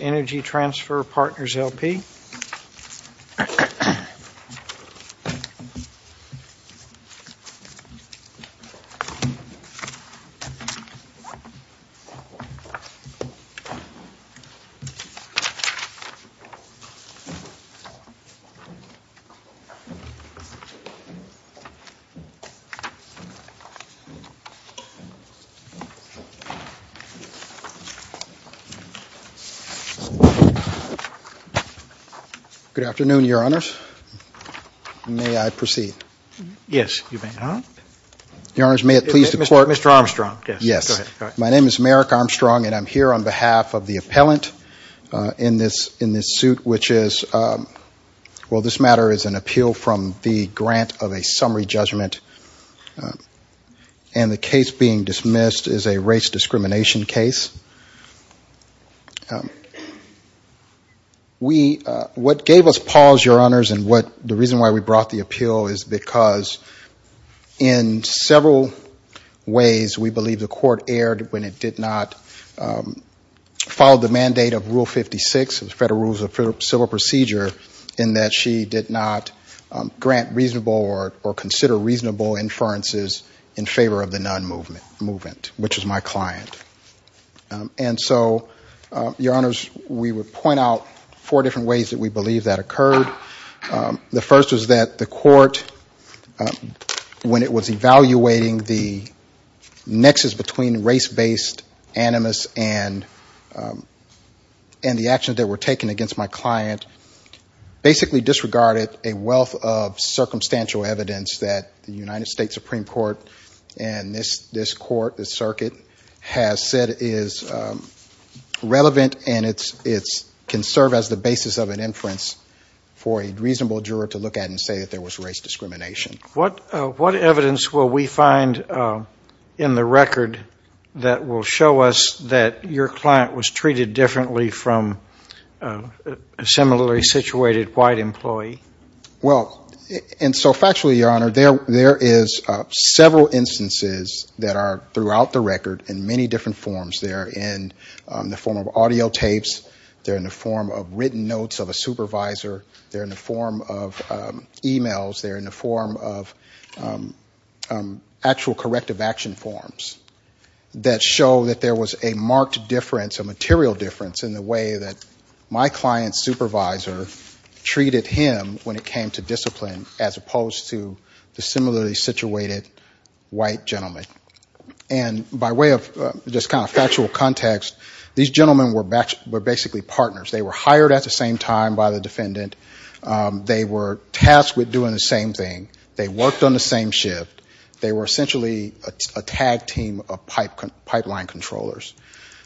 Energy Transfer Partners, L.P. Good afternoon, Your Honors. May I proceed? Yes, you may. Your Honors, may it please the Court? Mr. Armstrong, yes. Yes. Go ahead. My name is Merrick Armstrong, and I'm here on behalf of the appellant in this suit, which is, well, this matter is an appeal from the grant of a summary judgment, and the case being dismissed is a race discrimination case. What gave us pause, Your Honors, and the reason why we brought the appeal is because in several ways, we believe the Court erred when it did not follow the mandate of Rule 56, the Federal Rules of Civil Procedure, in that she did not grant reasonable or consider reasonable inferences in favor of the non-movement, which is my client. And so, Your Honors, we would point out four different ways that we believe that occurred. The first is that the Court, when it was evaluating the nexus between race-based animus and the actions that were taken against my client, basically disregarded a wealth of circumstantial evidence that the United States Supreme Court and this Court, this circuit, has said is relevant, and it can serve as the basis of an inference for a reasonable juror to look at and say that there was race discrimination. What evidence will we find in the record that will show us that your client was treated differently from a similarly situated white employee? Well, and so factually, Your Honor, there is several instances that are throughout the record in many different forms. They're in the form of audio tapes. They're in the form of written notes of a supervisor. They're in the form of e-mails. They're in the form of actual corrective action forms that show that there was a marked difference, a material difference, in the way that my client's supervisor treated him when it came to discipline as opposed to the similarly situated white gentleman. And by way of just kind of factual context, these gentlemen were basically partners. They were hired at the same time by the defendant. They were tasked with doing the same thing. They worked on the same shift. They were essentially a tag team of pipeline controllers.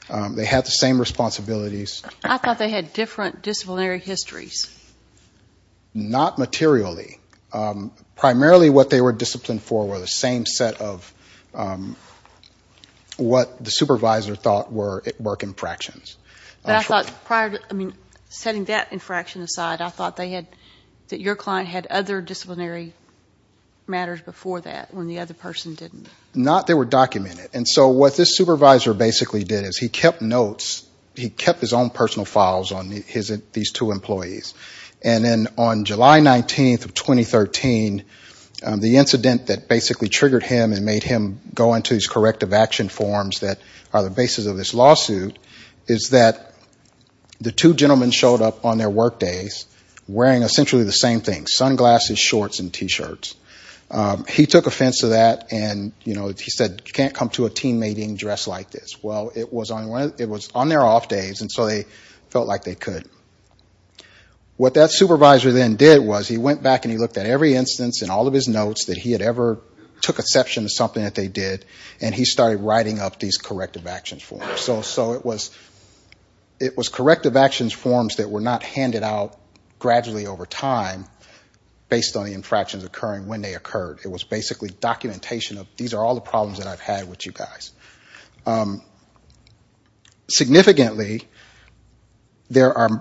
They had the same responsibilities. I thought they had different disciplinary histories. Not materially. Primarily what they were disciplined for were the same set of what the supervisor thought were work infractions. But I thought prior to, I mean, setting that infraction aside, I thought they had, that your client had other Not they were documented. And so what this supervisor basically did is he kept notes. He kept his own personal files on these two employees. And then on July 19th of 2013, the incident that basically triggered him and made him go into his corrective action forms that are the basis of this lawsuit is that the two gentlemen showed up on their work days wearing essentially the same thing, sunglasses, shorts, and T-shirts. He took offense to that, and he said, you can't come to a team meeting dressed like this. Well, it was on their off days, and so they felt like they could. What that supervisor then did was he went back and he looked at every instance and all of his notes that he had ever took exception to something that they did, and he started writing up these corrective actions forms. So it was corrective actions forms that were not handed out gradually over time based on the infractions occurring when they occurred. It was basically documentation of these are all the problems that I've had with you guys. Significantly, there are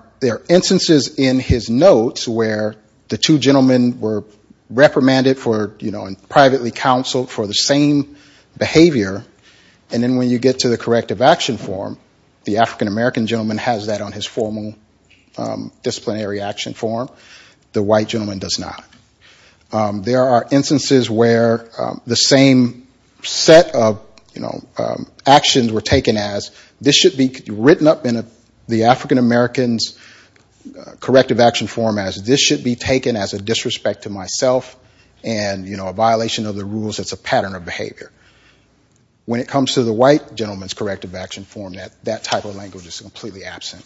instances in his notes where the two gentlemen were reprimanded for, you know, and privately counseled for the same behavior, and then when you get to the corrective action form, the African-American gentleman has that on his formal disciplinary action form. The white gentleman does not. There are instances where the same set of, you know, actions were taken as this should be written up in the African-American's corrective action form as this should be taken as a disrespect to myself and, you know, a violation of the rules that's a pattern of behavior. When it comes to the white gentleman's corrective action form, that type of language is completely absent.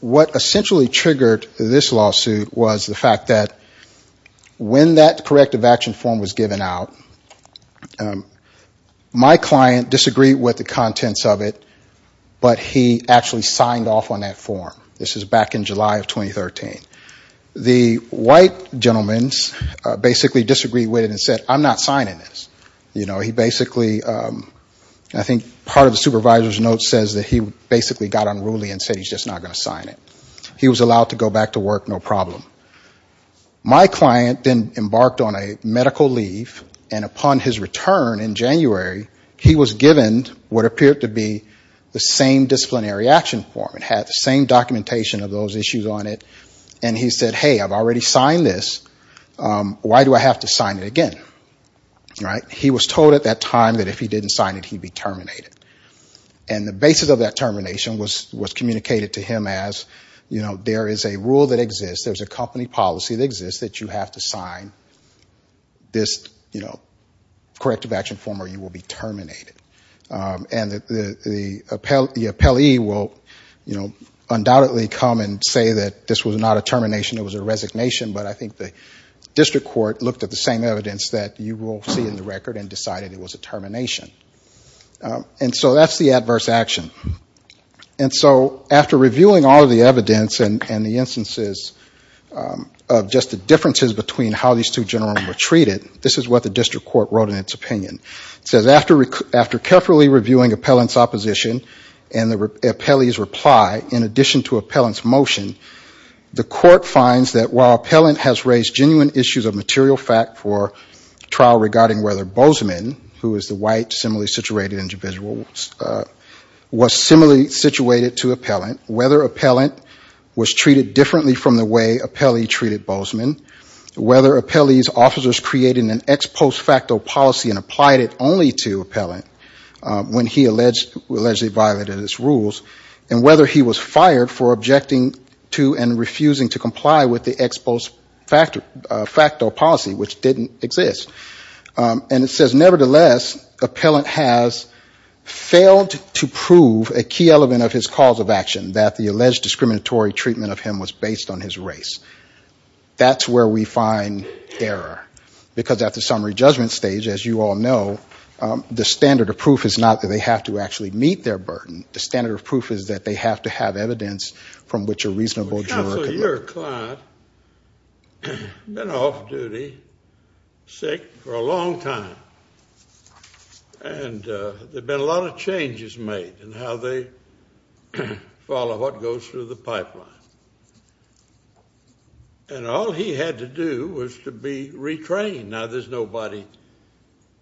What essentially triggered this lawsuit was the fact that when that corrective action form was given out, my client disagreed with the contents of it, but he actually signed off on that form. This is back in July of 2013. The white gentleman basically disagreed with it and said, I'm not signing this. You know, he basically, I think part of the supervisor's note says that he basically got unruly and said he's just not going to sign it. He was allowed to go back to work no problem. My client then embarked on a medical leave, and upon his return in January, he was given what appeared to be the same disciplinary action form. It had the same documentation of those issues on it. And he said, hey, I've already signed this. Why do I have to sign it again? Right. He was told at that time that if he didn't sign it, he'd be terminated. And the basis of that termination was communicated to him as, you know, there is a rule that exists. There's a company policy that exists that you have to sign this, you know, corrective action form or you will be terminated. And the appellee will undoubtedly come and say that this was not a termination, it was a resignation, but I think the district court looked at the same evidence that you will see in the record and decided it was a termination. And so that's the adverse action. And so after reviewing all of the evidence and the instances of just the differences between how these two gentlemen were treated, this is what the district court wrote in its opinion. It says, after carefully reviewing appellant's opposition and the appellee's reply, in addition to appellant's motion, the court finds that while appellant has raised genuine issues of material fact for trial regarding whether Bozeman, who is the white similarly situated individual, was similarly situated to appellant, whether appellant was treated differently from the way appellee treated Bozeman, whether appellee's officers created an ex post facto policy and applied it only to appellant when he allegedly violated his rules, and whether he was fired for objecting to and refusing to comply with the ex post facto policy, which didn't exist. And it says, nevertheless, appellant has failed to prove a key element of his cause of action, that the alleged discriminatory treatment of him was based on his race. That's where we find error. Because at the summary judgment stage, as you all know, the standard of proof is not that they have to actually meet their burden. The standard of proof is that they have to have evidence from which a reasonable juror can look. Counsel, your client has been off duty, sick, for a long time. And there have been a lot of changes made in how they follow what goes through the pipeline. And all he had to do was to be retrained. Now, there's nobody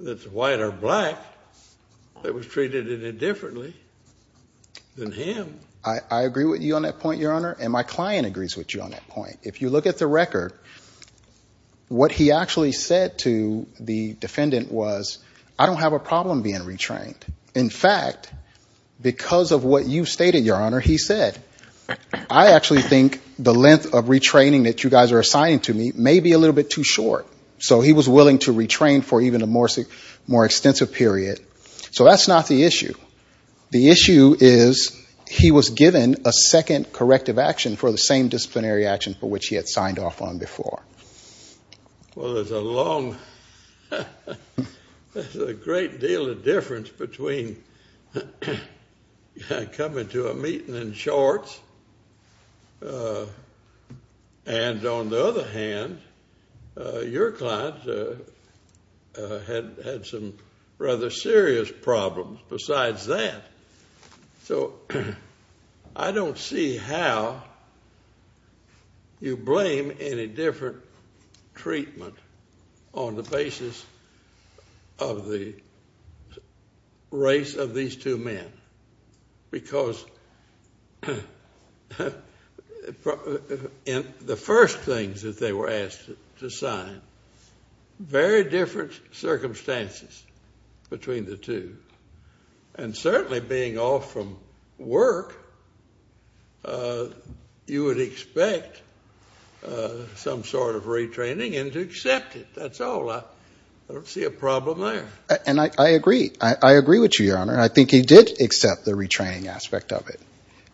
that's white or black that was treated any differently than him. I agree with you on that point, Your Honor. And my client agrees with you on that point. If you look at the record, what he actually said to the defendant was, I don't have a problem being retrained. In fact, because of what you stated, Your Honor, he said, I actually think the length of retraining that you guys are assigning to me may be a little bit too short. So he was willing to retrain for even a more extensive period. So that's not the issue. The issue is he was given a second corrective action for the same disciplinary action for which he had signed off on before. Well, there's a long, there's a great deal of difference between coming to a meeting in shorts and, on the other hand, your client had some rather serious problems besides that. So I don't see how you blame any different treatment on the basis of the race of these two men. Because in the first things that they were asked to sign, very different circumstances between the two. And certainly being off from work, you would expect some sort of retraining and to accept it. That's all. I don't see a problem there. And I agree. I agree with you, Your Honor. I think he did accept the retraining aspect of it.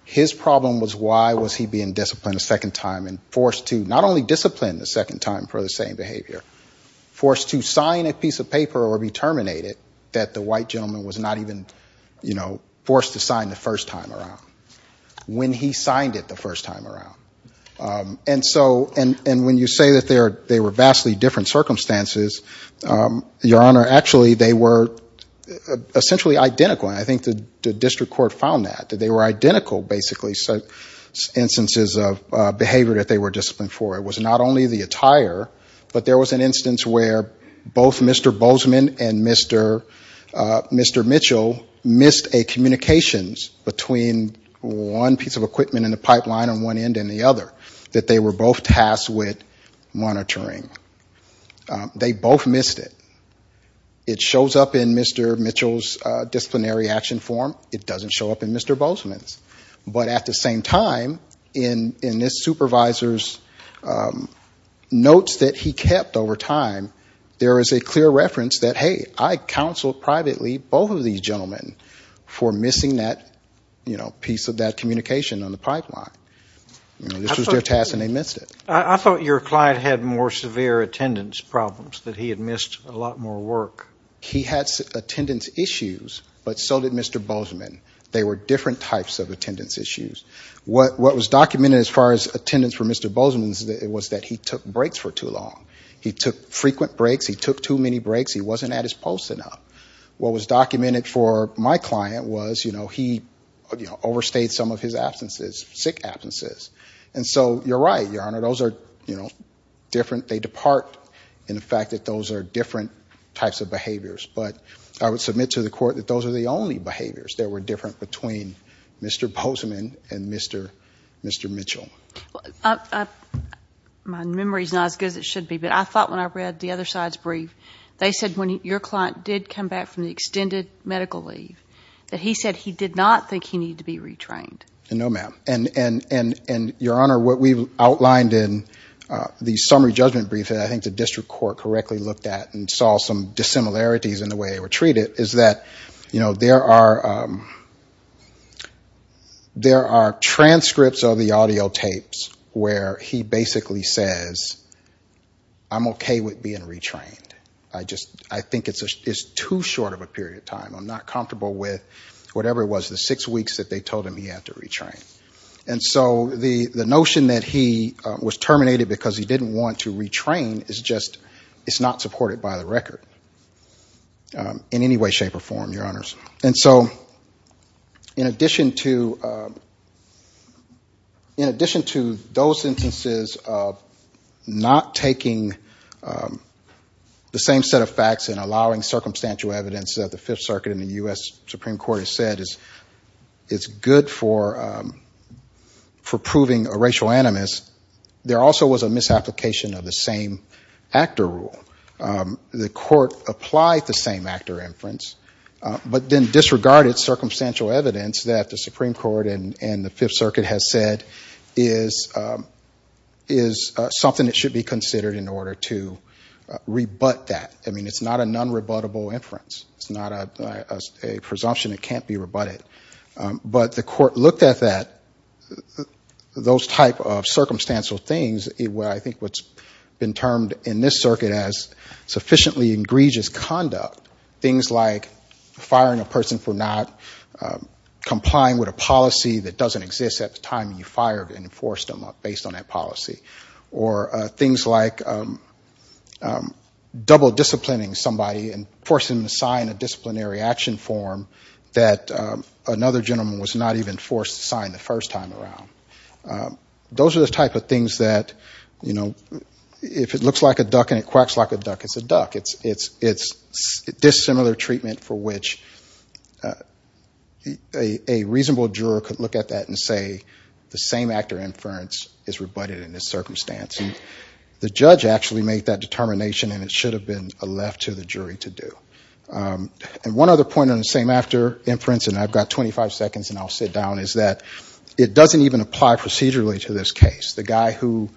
His problem was why was he being disciplined a second time and forced to not only discipline the second time for the same behavior, forced to sign a piece of paper or be terminated that the white gentleman was not even, you know, forced to sign the first time around. When he signed it the first time around. And so, and when you say that they were vastly different circumstances, Your Honor, actually they were essentially identical. And I think the district court found that. That they were identical, basically, instances of behavior that they were disciplined for. It was not only the attire, but there was an instance where both Mr. Bozeman and Mr. Mitchell missed a communications between one piece of equipment in the pipeline on one end and the other, that they were both tasked with monitoring. They both missed it. It shows up in Mr. Mitchell's disciplinary action form. It doesn't show up in Mr. Bozeman's. But at the same time, in this supervisor's notes that he kept over time, there is a clear reference that, hey, I counseled privately both of these gentlemen for missing that, you know, piece of that communication on the pipeline. This was their task and they missed it. I thought your client had more severe attendance problems, that he had missed a lot more work. He had attendance issues, but so did Mr. Bozeman. They were different types of attendance issues. What was documented as far as attendance for Mr. Bozeman was that he took breaks for too long. He took frequent breaks. He took too many breaks. He wasn't at his post enough. What was documented for my client was, you know, he overstayed some of his absences, sick absences. And so you're right, Your Honor, those are, you know, different. They depart in the fact that those are different types of behaviors. But I would submit to the Court that those are the only behaviors that were different between Mr. Bozeman and Mr. Mitchell. My memory is not as good as it should be, but I thought when I read the other side's brief, they said when your client did come back from the extended medical leave, that he said he did not think he needed to be retrained. No, ma'am. And, Your Honor, what we've outlined in the summary judgment brief that I think the district court correctly looked at and saw some dissimilarities in the way they were treated is that, you know, there are transcripts of the audio tapes where he basically says, I'm okay with being retrained. I think it's too short of a period of time. I'm not comfortable with whatever it was, the six weeks that they told him he had to retrain. And so the notion that he was terminated because he didn't want to retrain is just not supported by the record in any way, shape, or form, Your Honors. And so in addition to those instances of not taking the same set of facts and allowing circumstantial evidence that the Fifth Circuit and the U.S. Supreme Court has said is good for proving a racial animus, there also was a misapplication of the same actor rule. The court applied the same actor inference but then disregarded circumstantial evidence that the Supreme Court and the Fifth Circuit has said is something that should be considered in order to rebut that. I mean, it's not a non-rebuttable inference. It's not a presumption that can't be rebutted. But the court looked at that, those type of circumstantial things, where I think what's been termed in this circuit as sufficiently egregious conduct, things like firing a person for not complying with a policy that doesn't exist at the time you fired and enforced them based on that policy. Or things like double disciplining somebody and forcing them to sign a disciplinary action form that another gentleman was not even forced to sign the first time around. Those are the type of things that, you know, if it looks like a duck and it quacks like a duck, it's a duck. It's dissimilar treatment for which a reasonable juror could look at that and say the same actor inference is rebutted in this circumstance. And the judge actually made that determination and it should have been left to the jury to do. And one other point on the same actor inference, and I've got 25 seconds and I'll sit down, is that it doesn't even apply procedurally to this case. The guy who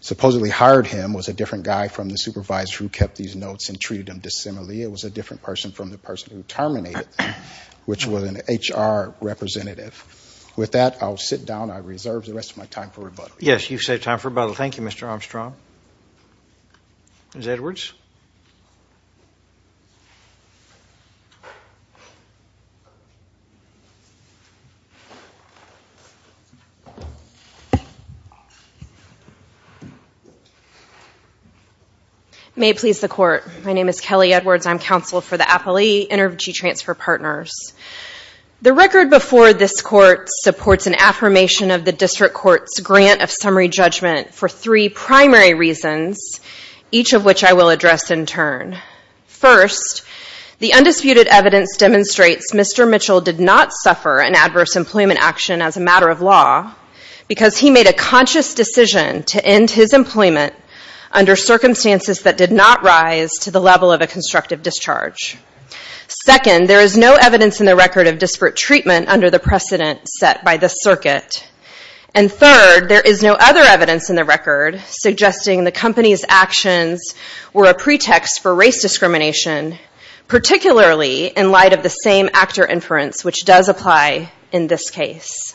supposedly hired him was a different guy from the supervisor who kept these notes and treated them dissimilarly. It was a different person from the person who terminated them, which was an HR representative. With that, I'll sit down. I reserve the rest of my time for rebuttal. Yes, you've saved time for rebuttal. Thank you, Mr. Armstrong. Ms. Edwards. May it please the Court. My name is Kelly Edwards. I'm counsel for the Appalachee Energy Transfer Partners. The record before this Court supports an affirmation of the District Court's grant of summary judgment for three primary reasons, each of which I will address in turn. First, the undisputed evidence demonstrates Mr. Mitchell did not suffer an adverse employment action as a matter of law because he made a conscious decision to end his employment under circumstances that did not rise to the level of a constructive discharge. Second, there is no evidence in the record of disparate treatment under the precedent set by the circuit. And third, there is no other evidence in the record suggesting the company's actions were a pretext for race discrimination, particularly in light of the same actor inference, which does apply in this case.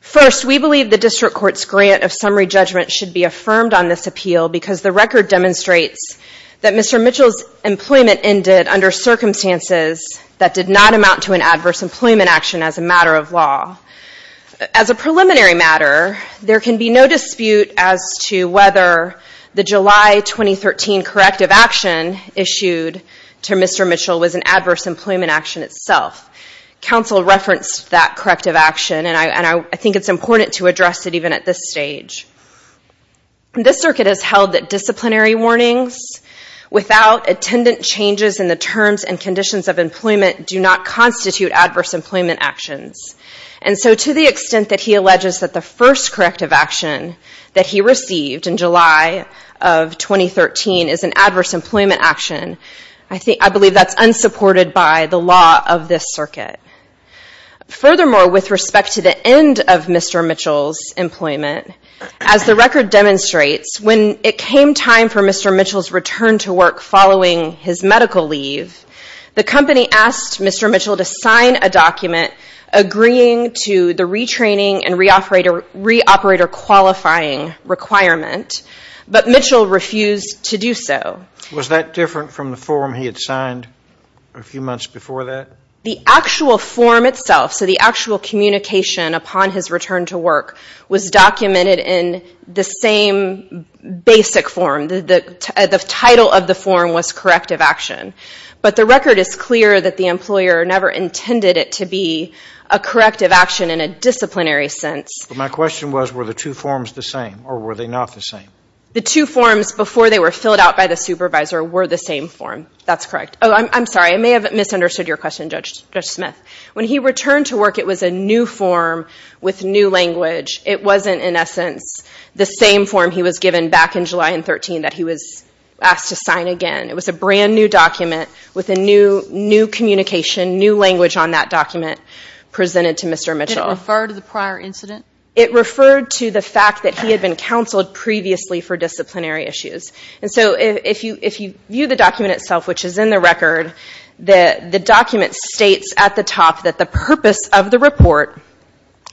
First, we believe the District Court's grant of summary judgment should be affirmed on this appeal because the record demonstrates that Mr. Mitchell's employment ended under circumstances that did not amount to an adverse employment action as a matter of law. As a preliminary matter, there can be no dispute as to whether the July 2013 corrective action issued to Mr. Mitchell was an adverse employment action itself. Counsel referenced that corrective action, and I think it's important to address it even at this stage. This circuit has held that disciplinary warnings without attendant changes in the terms and conditions of employment do not constitute adverse employment actions. And so to the extent that he alleges that the first corrective action that he received in July of 2013 is an adverse employment action, I believe that's unsupported by the law of this circuit. Furthermore, with respect to the end of Mr. Mitchell's employment, as the record demonstrates, when it came time for Mr. Mitchell's return to work following his medical leave, the company asked Mr. Mitchell to sign a document agreeing to the retraining and reoperator qualifying requirement, but Mitchell refused to do so. Was that different from the form he had signed a few months before that? The actual form itself, so the actual communication upon his return to work, was documented in the same basic form. The title of the form was corrective action. But the record is clear that the employer never intended it to be a corrective action in a disciplinary sense. But my question was, were the two forms the same, or were they not the same? The two forms before they were filled out by the supervisor were the same form. That's correct. I'm sorry, I may have misunderstood your question, Judge Smith. When he returned to work, it was a new form with new language. It wasn't, in essence, the same form he was given back in July of 2013 that he was asked to sign again. It was a brand new document with a new communication, new language on that document presented to Mr. Mitchell. Did it refer to the prior incident? It referred to the fact that he had been counseled previously for disciplinary issues. If you view the document itself, which is in the record, the document states at the top that the purpose of the report,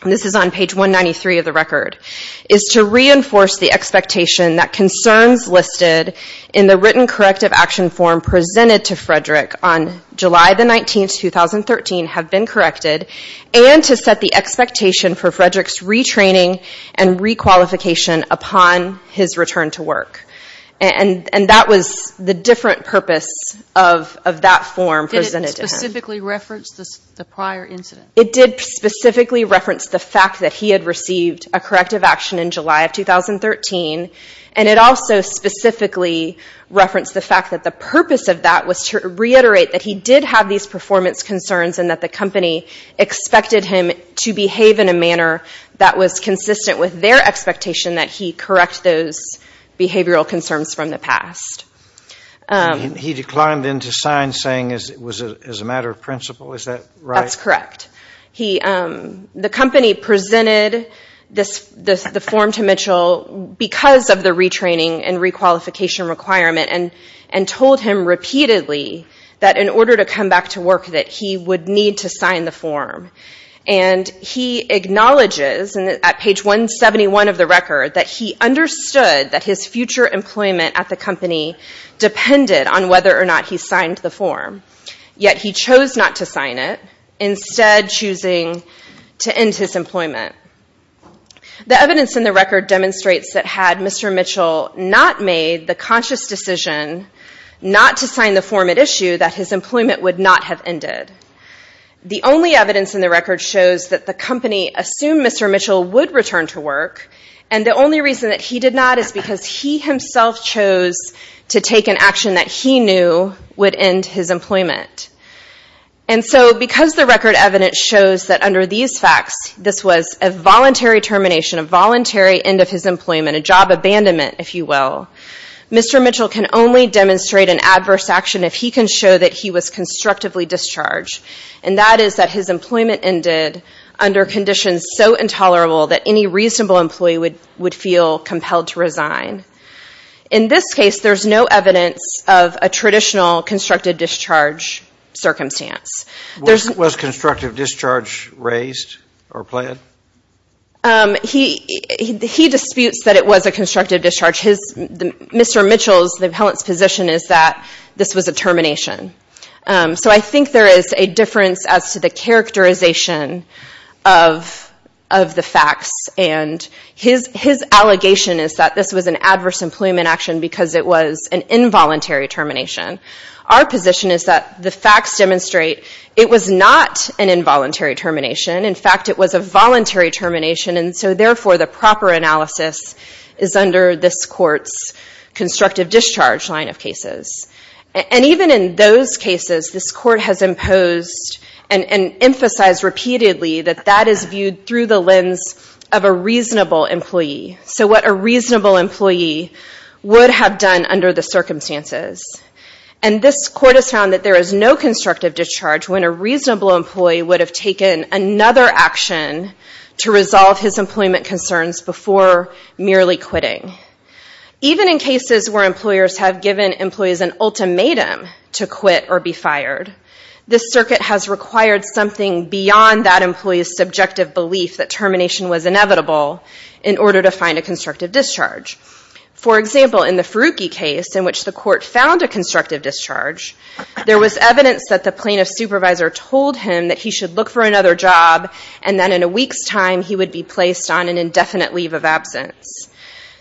this is on page 193 of the record, is to reinforce the expectation that concerns listed in the written corrective action form presented to Frederick on July 19, 2013 have been corrected, and to set the expectation for Frederick's retraining and requalification upon his return to work. And that was the different purpose of that form presented to him. Did it specifically reference the prior incident? It did specifically reference the fact that he had received a corrective action in July of 2013, and it also specifically referenced the fact that the purpose of that was to reiterate that he did have these performance concerns and that the company expected him to behave in a manner that was consistent with their expectation that he correct those behavioral concerns from the past. He declined then to sign saying it was a matter of principle. Is that right? That's correct. The company presented the form to Mitchell because of the retraining and requalification requirement and told him repeatedly that in order to come back to work that he would need to sign the form. And he acknowledges, at page 171 of the record, that he understood that his future employment at the company depended on whether or not he signed the form. Yet he chose not to sign it, instead choosing to end his employment. The evidence in the record demonstrates that had Mr. Mitchell not made the conscious decision not to sign the form at issue, that his employment would not have ended. The only evidence in the record shows that the company assumed Mr. Mitchell would return to work, and the only reason that he did not is because he himself chose to take an action that he knew would end his employment. And so because the record evidence shows that under these facts this was a voluntary termination, a voluntary end of his employment, a job abandonment, if you will, Mr. Mitchell can only demonstrate an adverse action if he can show that he was constructively discharged. And that is that his employment ended under conditions so intolerable that any reasonable employee would feel compelled to resign. In this case, there's no evidence of a traditional constructive discharge circumstance. Was constructive discharge raised or planned? He disputes that it was a constructive discharge. Mr. Mitchell's position is that this was a termination. So I think there is a difference as to the characterization of the facts. And his allegation is that this was an adverse employment action because it was an involuntary termination. Our position is that the facts demonstrate it was not an involuntary termination. In fact, it was a voluntary termination. And so, therefore, the proper analysis is under this Court's constructive discharge line of cases. And even in those cases, this Court has imposed and emphasized repeatedly that that is viewed through the lens of a reasonable employee. So what a reasonable employee would have done under the circumstances. And this Court has found that there is no constructive discharge when a reasonable employee would have taken another action to resolve his employment concerns before merely quitting. Even in cases where employers have given employees an ultimatum to quit or be fired, this circuit has required something beyond that employee's subjective belief that termination was inevitable in order to find a constructive discharge. For example, in the Faruqi case, in which the Court found a constructive discharge, there was evidence that the plaintiff's supervisor told him that he should look for another job and that in a week's time he would be placed on an indefinite leave of absence.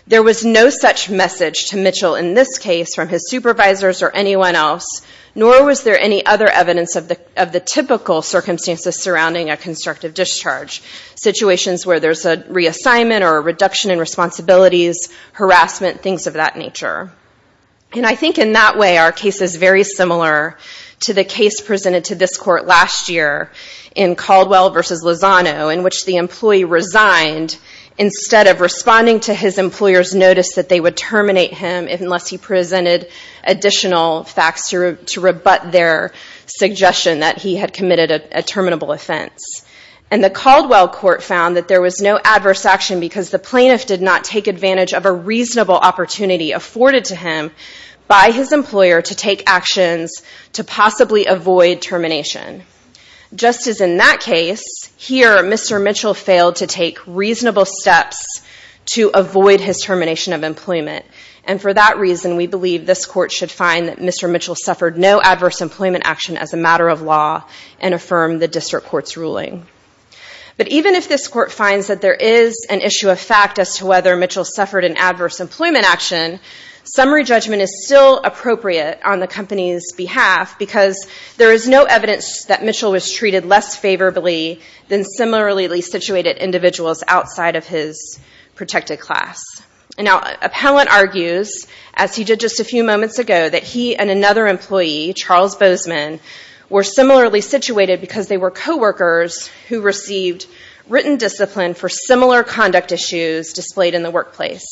There was no such message to Mitchell in this case from his supervisors or anyone else, nor was there any other evidence of the typical circumstances surrounding a constructive discharge. Situations where there's a reassignment or a reduction in responsibilities, harassment, things of that nature. And I think in that way our case is very similar to the case presented to this Court last year in Caldwell v. Lozano, in which the employee resigned instead of responding to his employer's notice that they would terminate him unless he presented additional facts to rebut their suggestion that he had committed a terminable offense. And the Caldwell Court found that there was no adverse action because the plaintiff did not take advantage of a reasonable opportunity afforded to him by his employer to take actions to possibly avoid termination. Just as in that case, here Mr. Mitchell failed to take reasonable steps to avoid his termination of employment. And for that reason, we believe this Court should find that Mr. Mitchell suffered no adverse employment action as a matter of law and affirm the District Court's ruling. But even if this Court finds that there is an issue of fact as to whether Mitchell suffered an adverse employment action, summary judgment is still appropriate on the company's behalf because there is no evidence that Mitchell was treated less favorably than similarly situated individuals outside of his protected class. Now, Appellant argues, as he did just a few moments ago, that he and another employee, Charles Bozeman, were similarly situated because they were coworkers who received written discipline for similar conduct issues displayed in the workplace.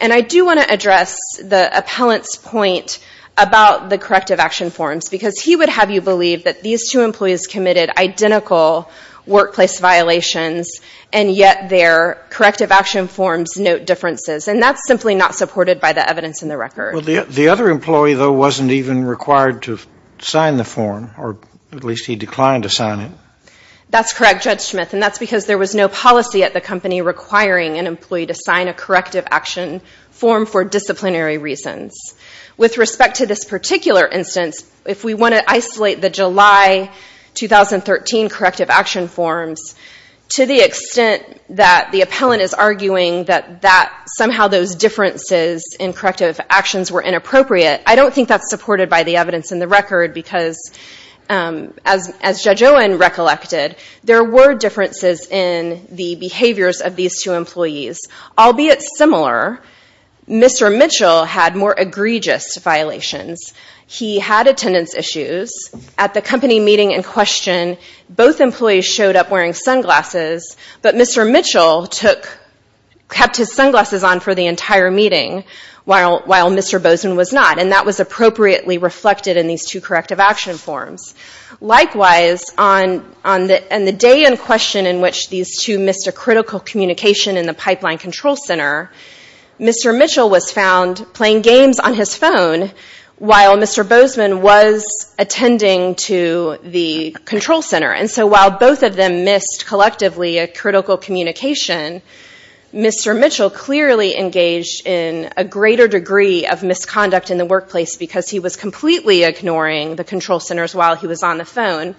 And I do want to address the Appellant's point about the corrective action forms because he would have you believe that these two employees committed identical workplace violations and yet their corrective action forms note differences. And that's simply not supported by the evidence in the record. Well, the other employee, though, wasn't even required to sign the form, or at least he declined to sign it. That's correct, Judge Smith, and that's because there was no policy at the company requiring an employee to sign a corrective action form for disciplinary reasons. With respect to this particular instance, if we want to isolate the July 2013 corrective action forms, to the extent that the Appellant is arguing that somehow those differences in corrective actions were inappropriate, I don't think that's supported by the evidence in the record because, as Judge Owen recollected, there were differences in the behaviors of these two employees. Albeit similar, Mr. Mitchell had more egregious violations. He had attendance issues. At the company meeting in question, both employees showed up wearing sunglasses, but Mr. Mitchell kept his sunglasses on for the entire meeting while Mr. Bozeman was not, and that was appropriately reflected in these two corrective action forms. Likewise, on the day in question in which these two missed a critical communication in the Pipeline Control Center, Mr. Mitchell was found playing games on his phone while Mr. Bozeman was attending to the Control Center. So while both of them missed collectively a critical communication, Mr. Mitchell clearly engaged in a greater degree of misconduct in the workplace because he was completely ignoring the Control Centers while he was on the phone.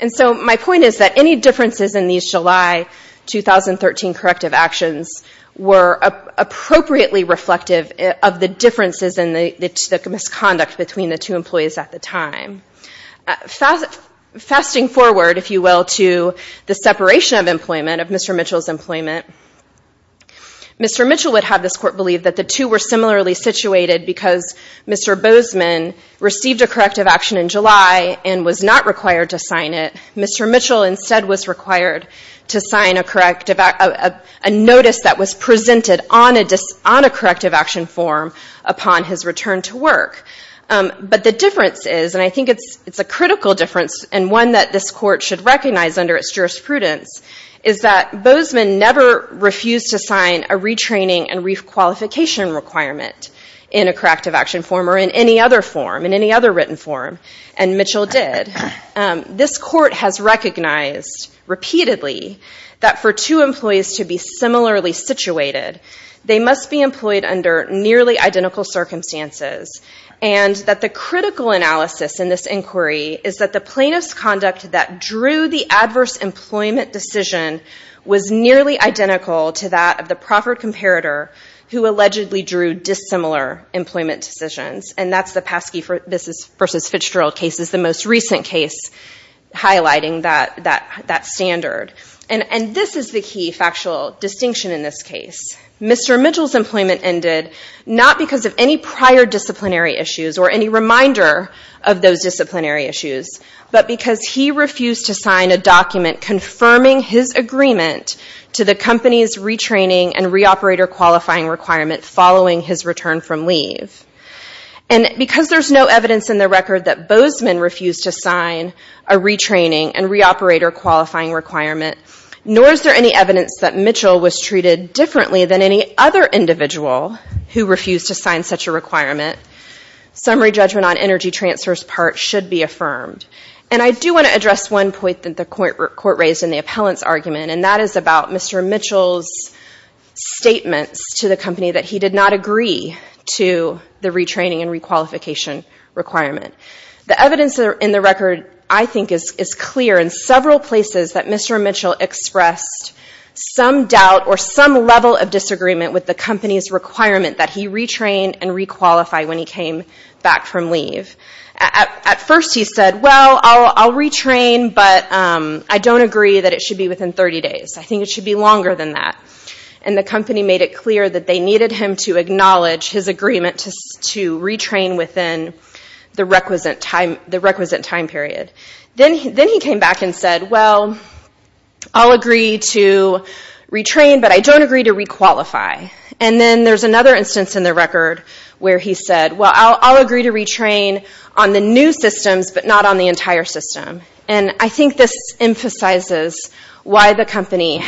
And so my point is that any differences in these July 2013 corrective actions were appropriately reflective of the differences in the misconduct between the two employees at the time. Fasting forward, if you will, to the separation of employment, of Mr. Mitchell's employment, Mr. Mitchell would have this court believe that the two were similarly situated because Mr. Bozeman received a corrective action in July and was not required to sign it. Mr. Mitchell instead was required to sign a notice that was presented on a corrective action form upon his return to work. But the difference is, and I think it's a critical difference and one that this court should recognize under its jurisprudence, is that Bozeman never refused to sign a retraining and requalification requirement in a corrective action form or in any other form, in any other written form, and Mitchell did. This court has recognized repeatedly that for two employees to be similarly situated, they must be employed under nearly identical circumstances, and that the critical analysis in this inquiry is that the plaintiff's conduct that drew the adverse employment decision was nearly identical to that of the proffered comparator who allegedly drew dissimilar employment decisions, and that's the Paskey v. Fitzgerald case is the most recent case highlighting that standard. And this is the key factual distinction in this case. Mr. Mitchell's employment ended not because of any prior disciplinary issues or any reminder of those disciplinary issues, but because he refused to sign a document confirming his agreement to the company's retraining and reoperator qualifying requirement following his return from leave. And because there's no evidence in the record that Bozeman refused to sign a retraining and reoperator qualifying requirement, nor is there any evidence that Mitchell was treated differently Summary judgment on energy transfer's part should be affirmed. And I do want to address one point that the court raised in the appellant's argument, and that is about Mr. Mitchell's statements to the company that he did not agree to the retraining and requalification requirement. The evidence in the record, I think, is clear in several places that Mr. Mitchell expressed some doubt or some level of disagreement with the company's requirement that he retrain and requalify when he came back from leave. At first he said, well, I'll retrain, but I don't agree that it should be within 30 days. I think it should be longer than that. And the company made it clear that they needed him to acknowledge his agreement to retrain within the requisite time period. Then he came back and said, well, I'll agree to retrain, but I don't agree to requalify. And then there's another instance in the record where he said, well, I'll agree to retrain on the new systems, but not on the entire system. And I think this emphasizes why the company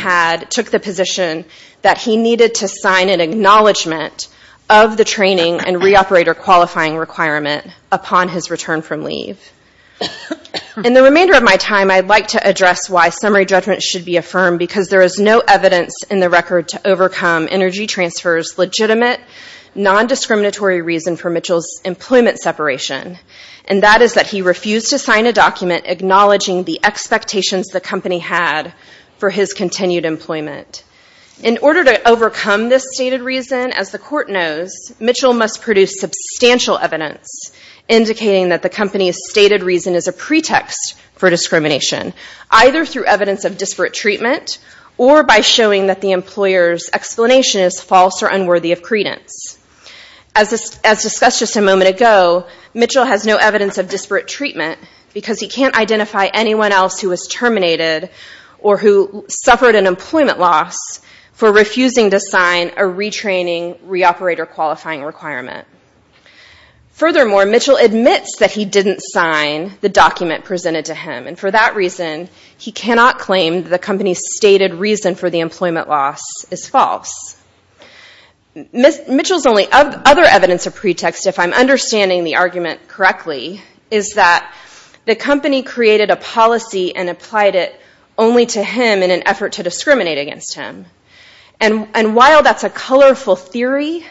took the position that he needed to sign an acknowledgement of the training and reoperator qualifying requirement upon his return from leave. In the remainder of my time, I'd like to address why summary judgment should be affirmed, because there is no evidence in the record to overcome Energy Transfer's legitimate, non-discriminatory reason for Mitchell's employment separation, and that is that he refused to sign a document acknowledging the expectations the company had for his continued employment. In order to overcome this stated reason, as the court knows, Mitchell must produce substantial evidence indicating that the company's stated reason is a pretext for discrimination, either through evidence of disparate treatment or by showing that the employer's explanation is false or unworthy of credence. As discussed just a moment ago, Mitchell has no evidence of disparate treatment because he can't identify anyone else who was terminated or who suffered an employment loss for refusing to sign a retraining reoperator qualifying requirement. Furthermore, Mitchell admits that he didn't sign the document presented to him, and for that reason, he cannot claim that the company's stated reason for the employment loss is false. Mitchell's only other evidence of pretext, if I'm understanding the argument correctly, is that the company created a policy and applied it only to him in an effort to discriminate against him. And while that's a colorful theory,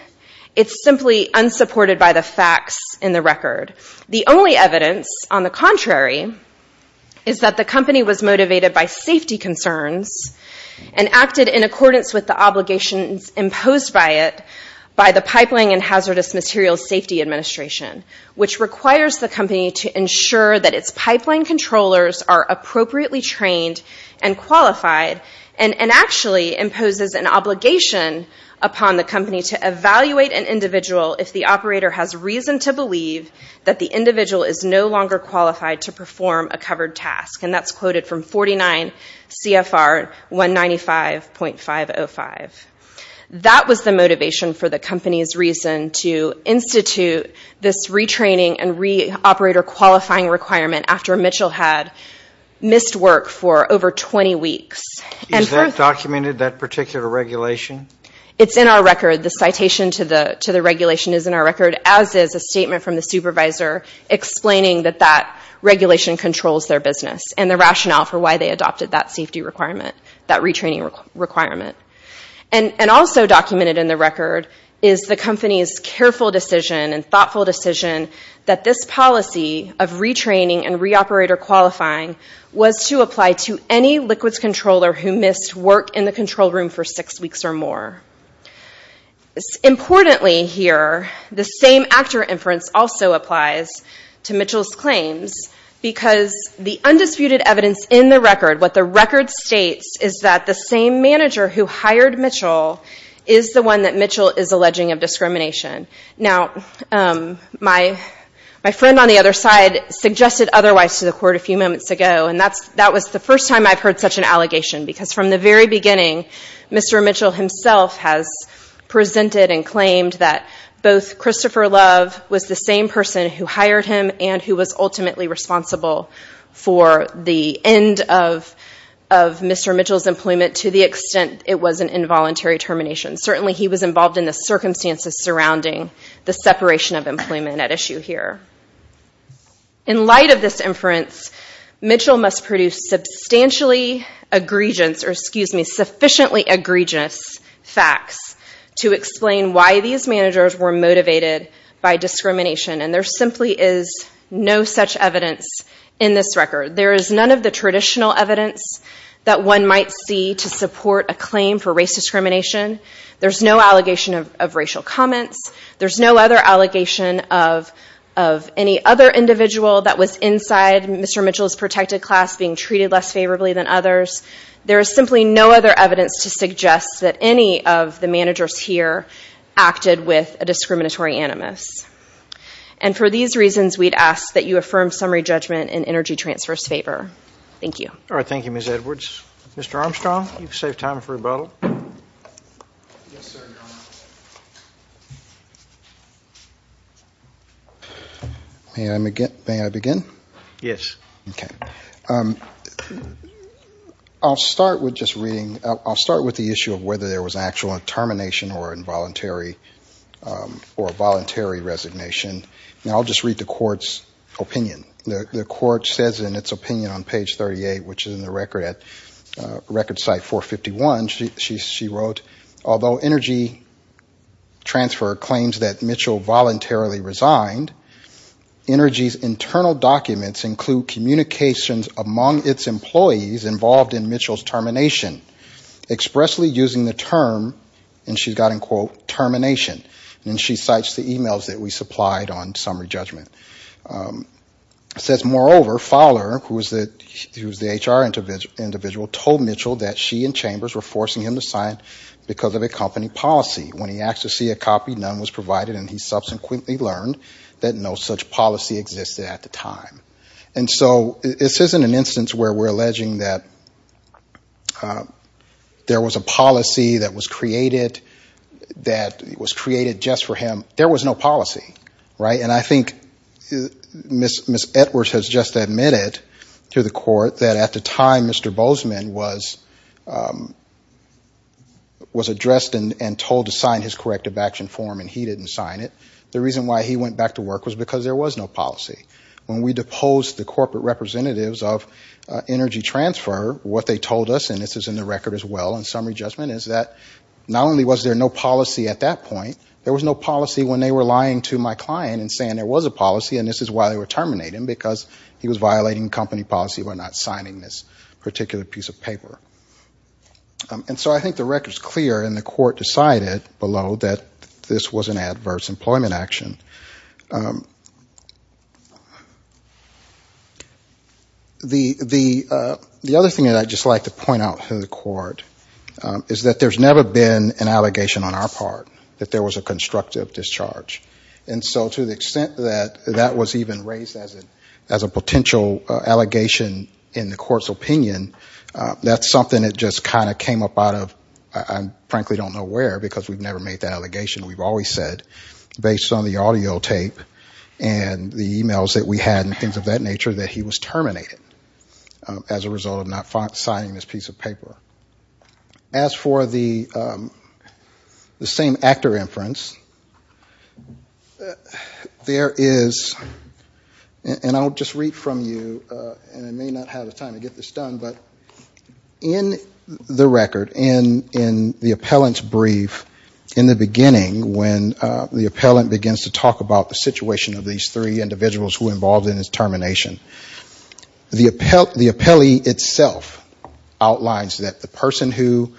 it's simply unsupported by the facts in the record. The only evidence, on the contrary, is that the company was motivated by safety concerns and acted in accordance with the obligations imposed by it by the Pipeline and Hazardous Materials Safety Administration, which requires the company to ensure that its pipeline controllers are appropriately trained and qualified, and actually imposes an obligation upon the company to evaluate an individual if the operator has reason to believe that the individual is no longer qualified to perform a covered task. And that's quoted from 49 CFR 195.505. That was the motivation for the company's reason to institute this retraining and re-operator qualifying requirement after Mitchell had missed work for over 20 weeks. Is that documented, that particular regulation? It's in our record. The citation to the regulation is in our record, as is a statement from the supervisor explaining that that regulation controls their business and the rationale for why they adopted that safety requirement, that retraining requirement. And also documented in the record is the company's careful decision and thoughtful decision that this policy of retraining and re-operator qualifying was to apply to any liquids controller who missed work in the control room for six weeks or more. Importantly here, the same actor inference also applies to Mitchell's claims because the undisputed evidence in the record, what the record states, is that the same manager who hired Mitchell is the one that Mitchell is alleging of discrimination. Now, my friend on the other side suggested otherwise to the court a few moments ago, and that was the first time I've heard such an allegation because from the very beginning, Mr. Mitchell himself has presented and claimed that both Christopher Love was the same person who hired him and who was ultimately responsible for the end of Mr. Mitchell's employment to the extent it was an involuntary termination. Certainly he was involved in the circumstances surrounding the separation of employment at issue here. In light of this inference, Mitchell must produce substantially egregious, or excuse me, sufficiently egregious facts to explain why these managers were motivated by discrimination. And there simply is no such evidence in this record. There is none of the traditional evidence that one might see to support a claim for race discrimination. There's no allegation of racial comments. There's no other allegation of any other individual that was inside Mr. Mitchell's protected class being treated less favorably than others. There is simply no other evidence to suggest that any of the managers here acted with a discriminatory animus. And for these reasons, we'd ask that you affirm summary judgment and energy transfers favor. Thank you. All right, thank you, Ms. Edwards. Mr. Armstrong, you've saved time for rebuttal. May I begin? Yes. Okay. I'll start with just reading, I'll start with the issue of whether there was actual termination or involuntary or voluntary resignation. And I'll just read the court's opinion. The court says in its opinion on page 38, which is in the record at record site 451, she wrote, although energy transfer claims that Mitchell voluntarily resigned, energy's internal documents include communications among its employees involved in Mitchell's termination, expressly using the term, and she's got in quote, termination. And she cites the emails that we supplied on summary judgment. It says, moreover, Fowler, who was the HR individual, told Mitchell that she and Chambers were forcing him to sign because of a company policy. When he asked to see a copy, none was provided, and he subsequently learned that no such policy existed at the time. And so this isn't an instance where we're alleging that there was a policy that was created that was created just for him. There was no policy, right? And I think Ms. Edwards has just admitted to the court that at the time Mr. Bozeman was addressed and told to sign his corrective action form, and he didn't sign it. The reason why he went back to work was because there was no policy. When we deposed the corporate representatives of energy transfer, what they told us, and this is in the record as well in summary judgment, is that not only was there no policy at that point, there was no policy when they were lying to my client and saying there was a policy and this is why they were terminating him because he was violating company policy by not signing this particular piece of paper. And so I think the record is clear and the court decided below that this was an adverse employment action. The other thing that I'd just like to point out to the court is that there's never been an allegation on our part that there was a constructive discharge. And so to the extent that that was even raised as a potential allegation in the court's opinion, that's something that just kind of came up out of, I frankly don't know where, because we've never made that allegation, we've always said based on the audio tape and the emails that we had and things of that nature that he was terminated as a result of not signing this piece of paper. As for the same actor inference, there is, and I'll just read from you, and I may not have the time to get this done, but in the record, in the appellant's brief, in the beginning when the appellant begins to talk about the situation of these three individuals who were involved in his termination, the appellee itself outlines that the person who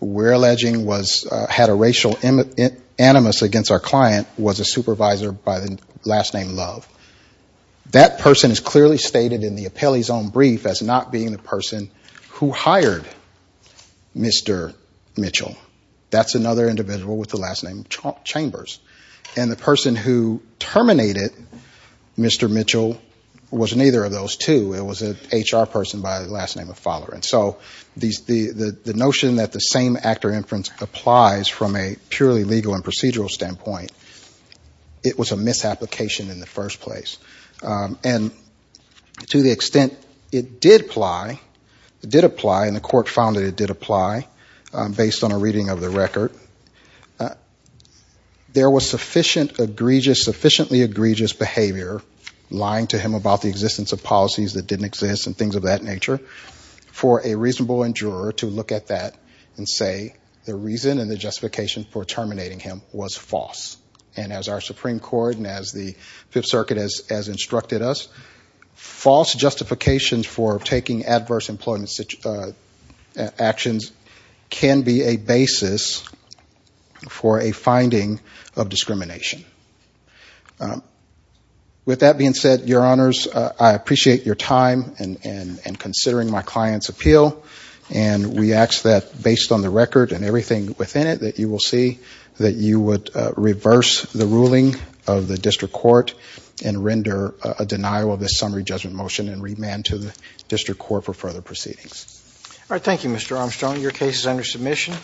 we're alleging had a racial animus against our client was a supervisor by the last name Love. That person is clearly stated in the appellee's own brief as not being the person who hired Mr. Mitchell. That's another individual with the last name Chambers. And the person who terminated Mr. Mitchell was neither of those two. It was an HR person by the last name of Fowler. And so the notion that the same actor inference applies from a purely legal and procedural standpoint, it was a misapplication in the first place. And to the extent it did apply, and the court found that it did apply, based on a reading of the record, there was sufficiently egregious behavior, lying to him about the existence of policies that didn't exist and things of that nature, for a reasonable endurer to look at that and say the reason and the justification for terminating him was false. And as our Supreme Court and as the Fifth Circuit has instructed us, false justifications for taking adverse employment actions can be a basis for a finding of discrimination. With that being said, Your Honors, I appreciate your time in considering my client's appeal. And we ask that, based on the record and everything within it, that you will see that you would reverse the ruling of the district court and render a denial of this summary judgment motion and remand to the district court for further proceedings. Thank you, Mr. Armstrong. Your case is under submission.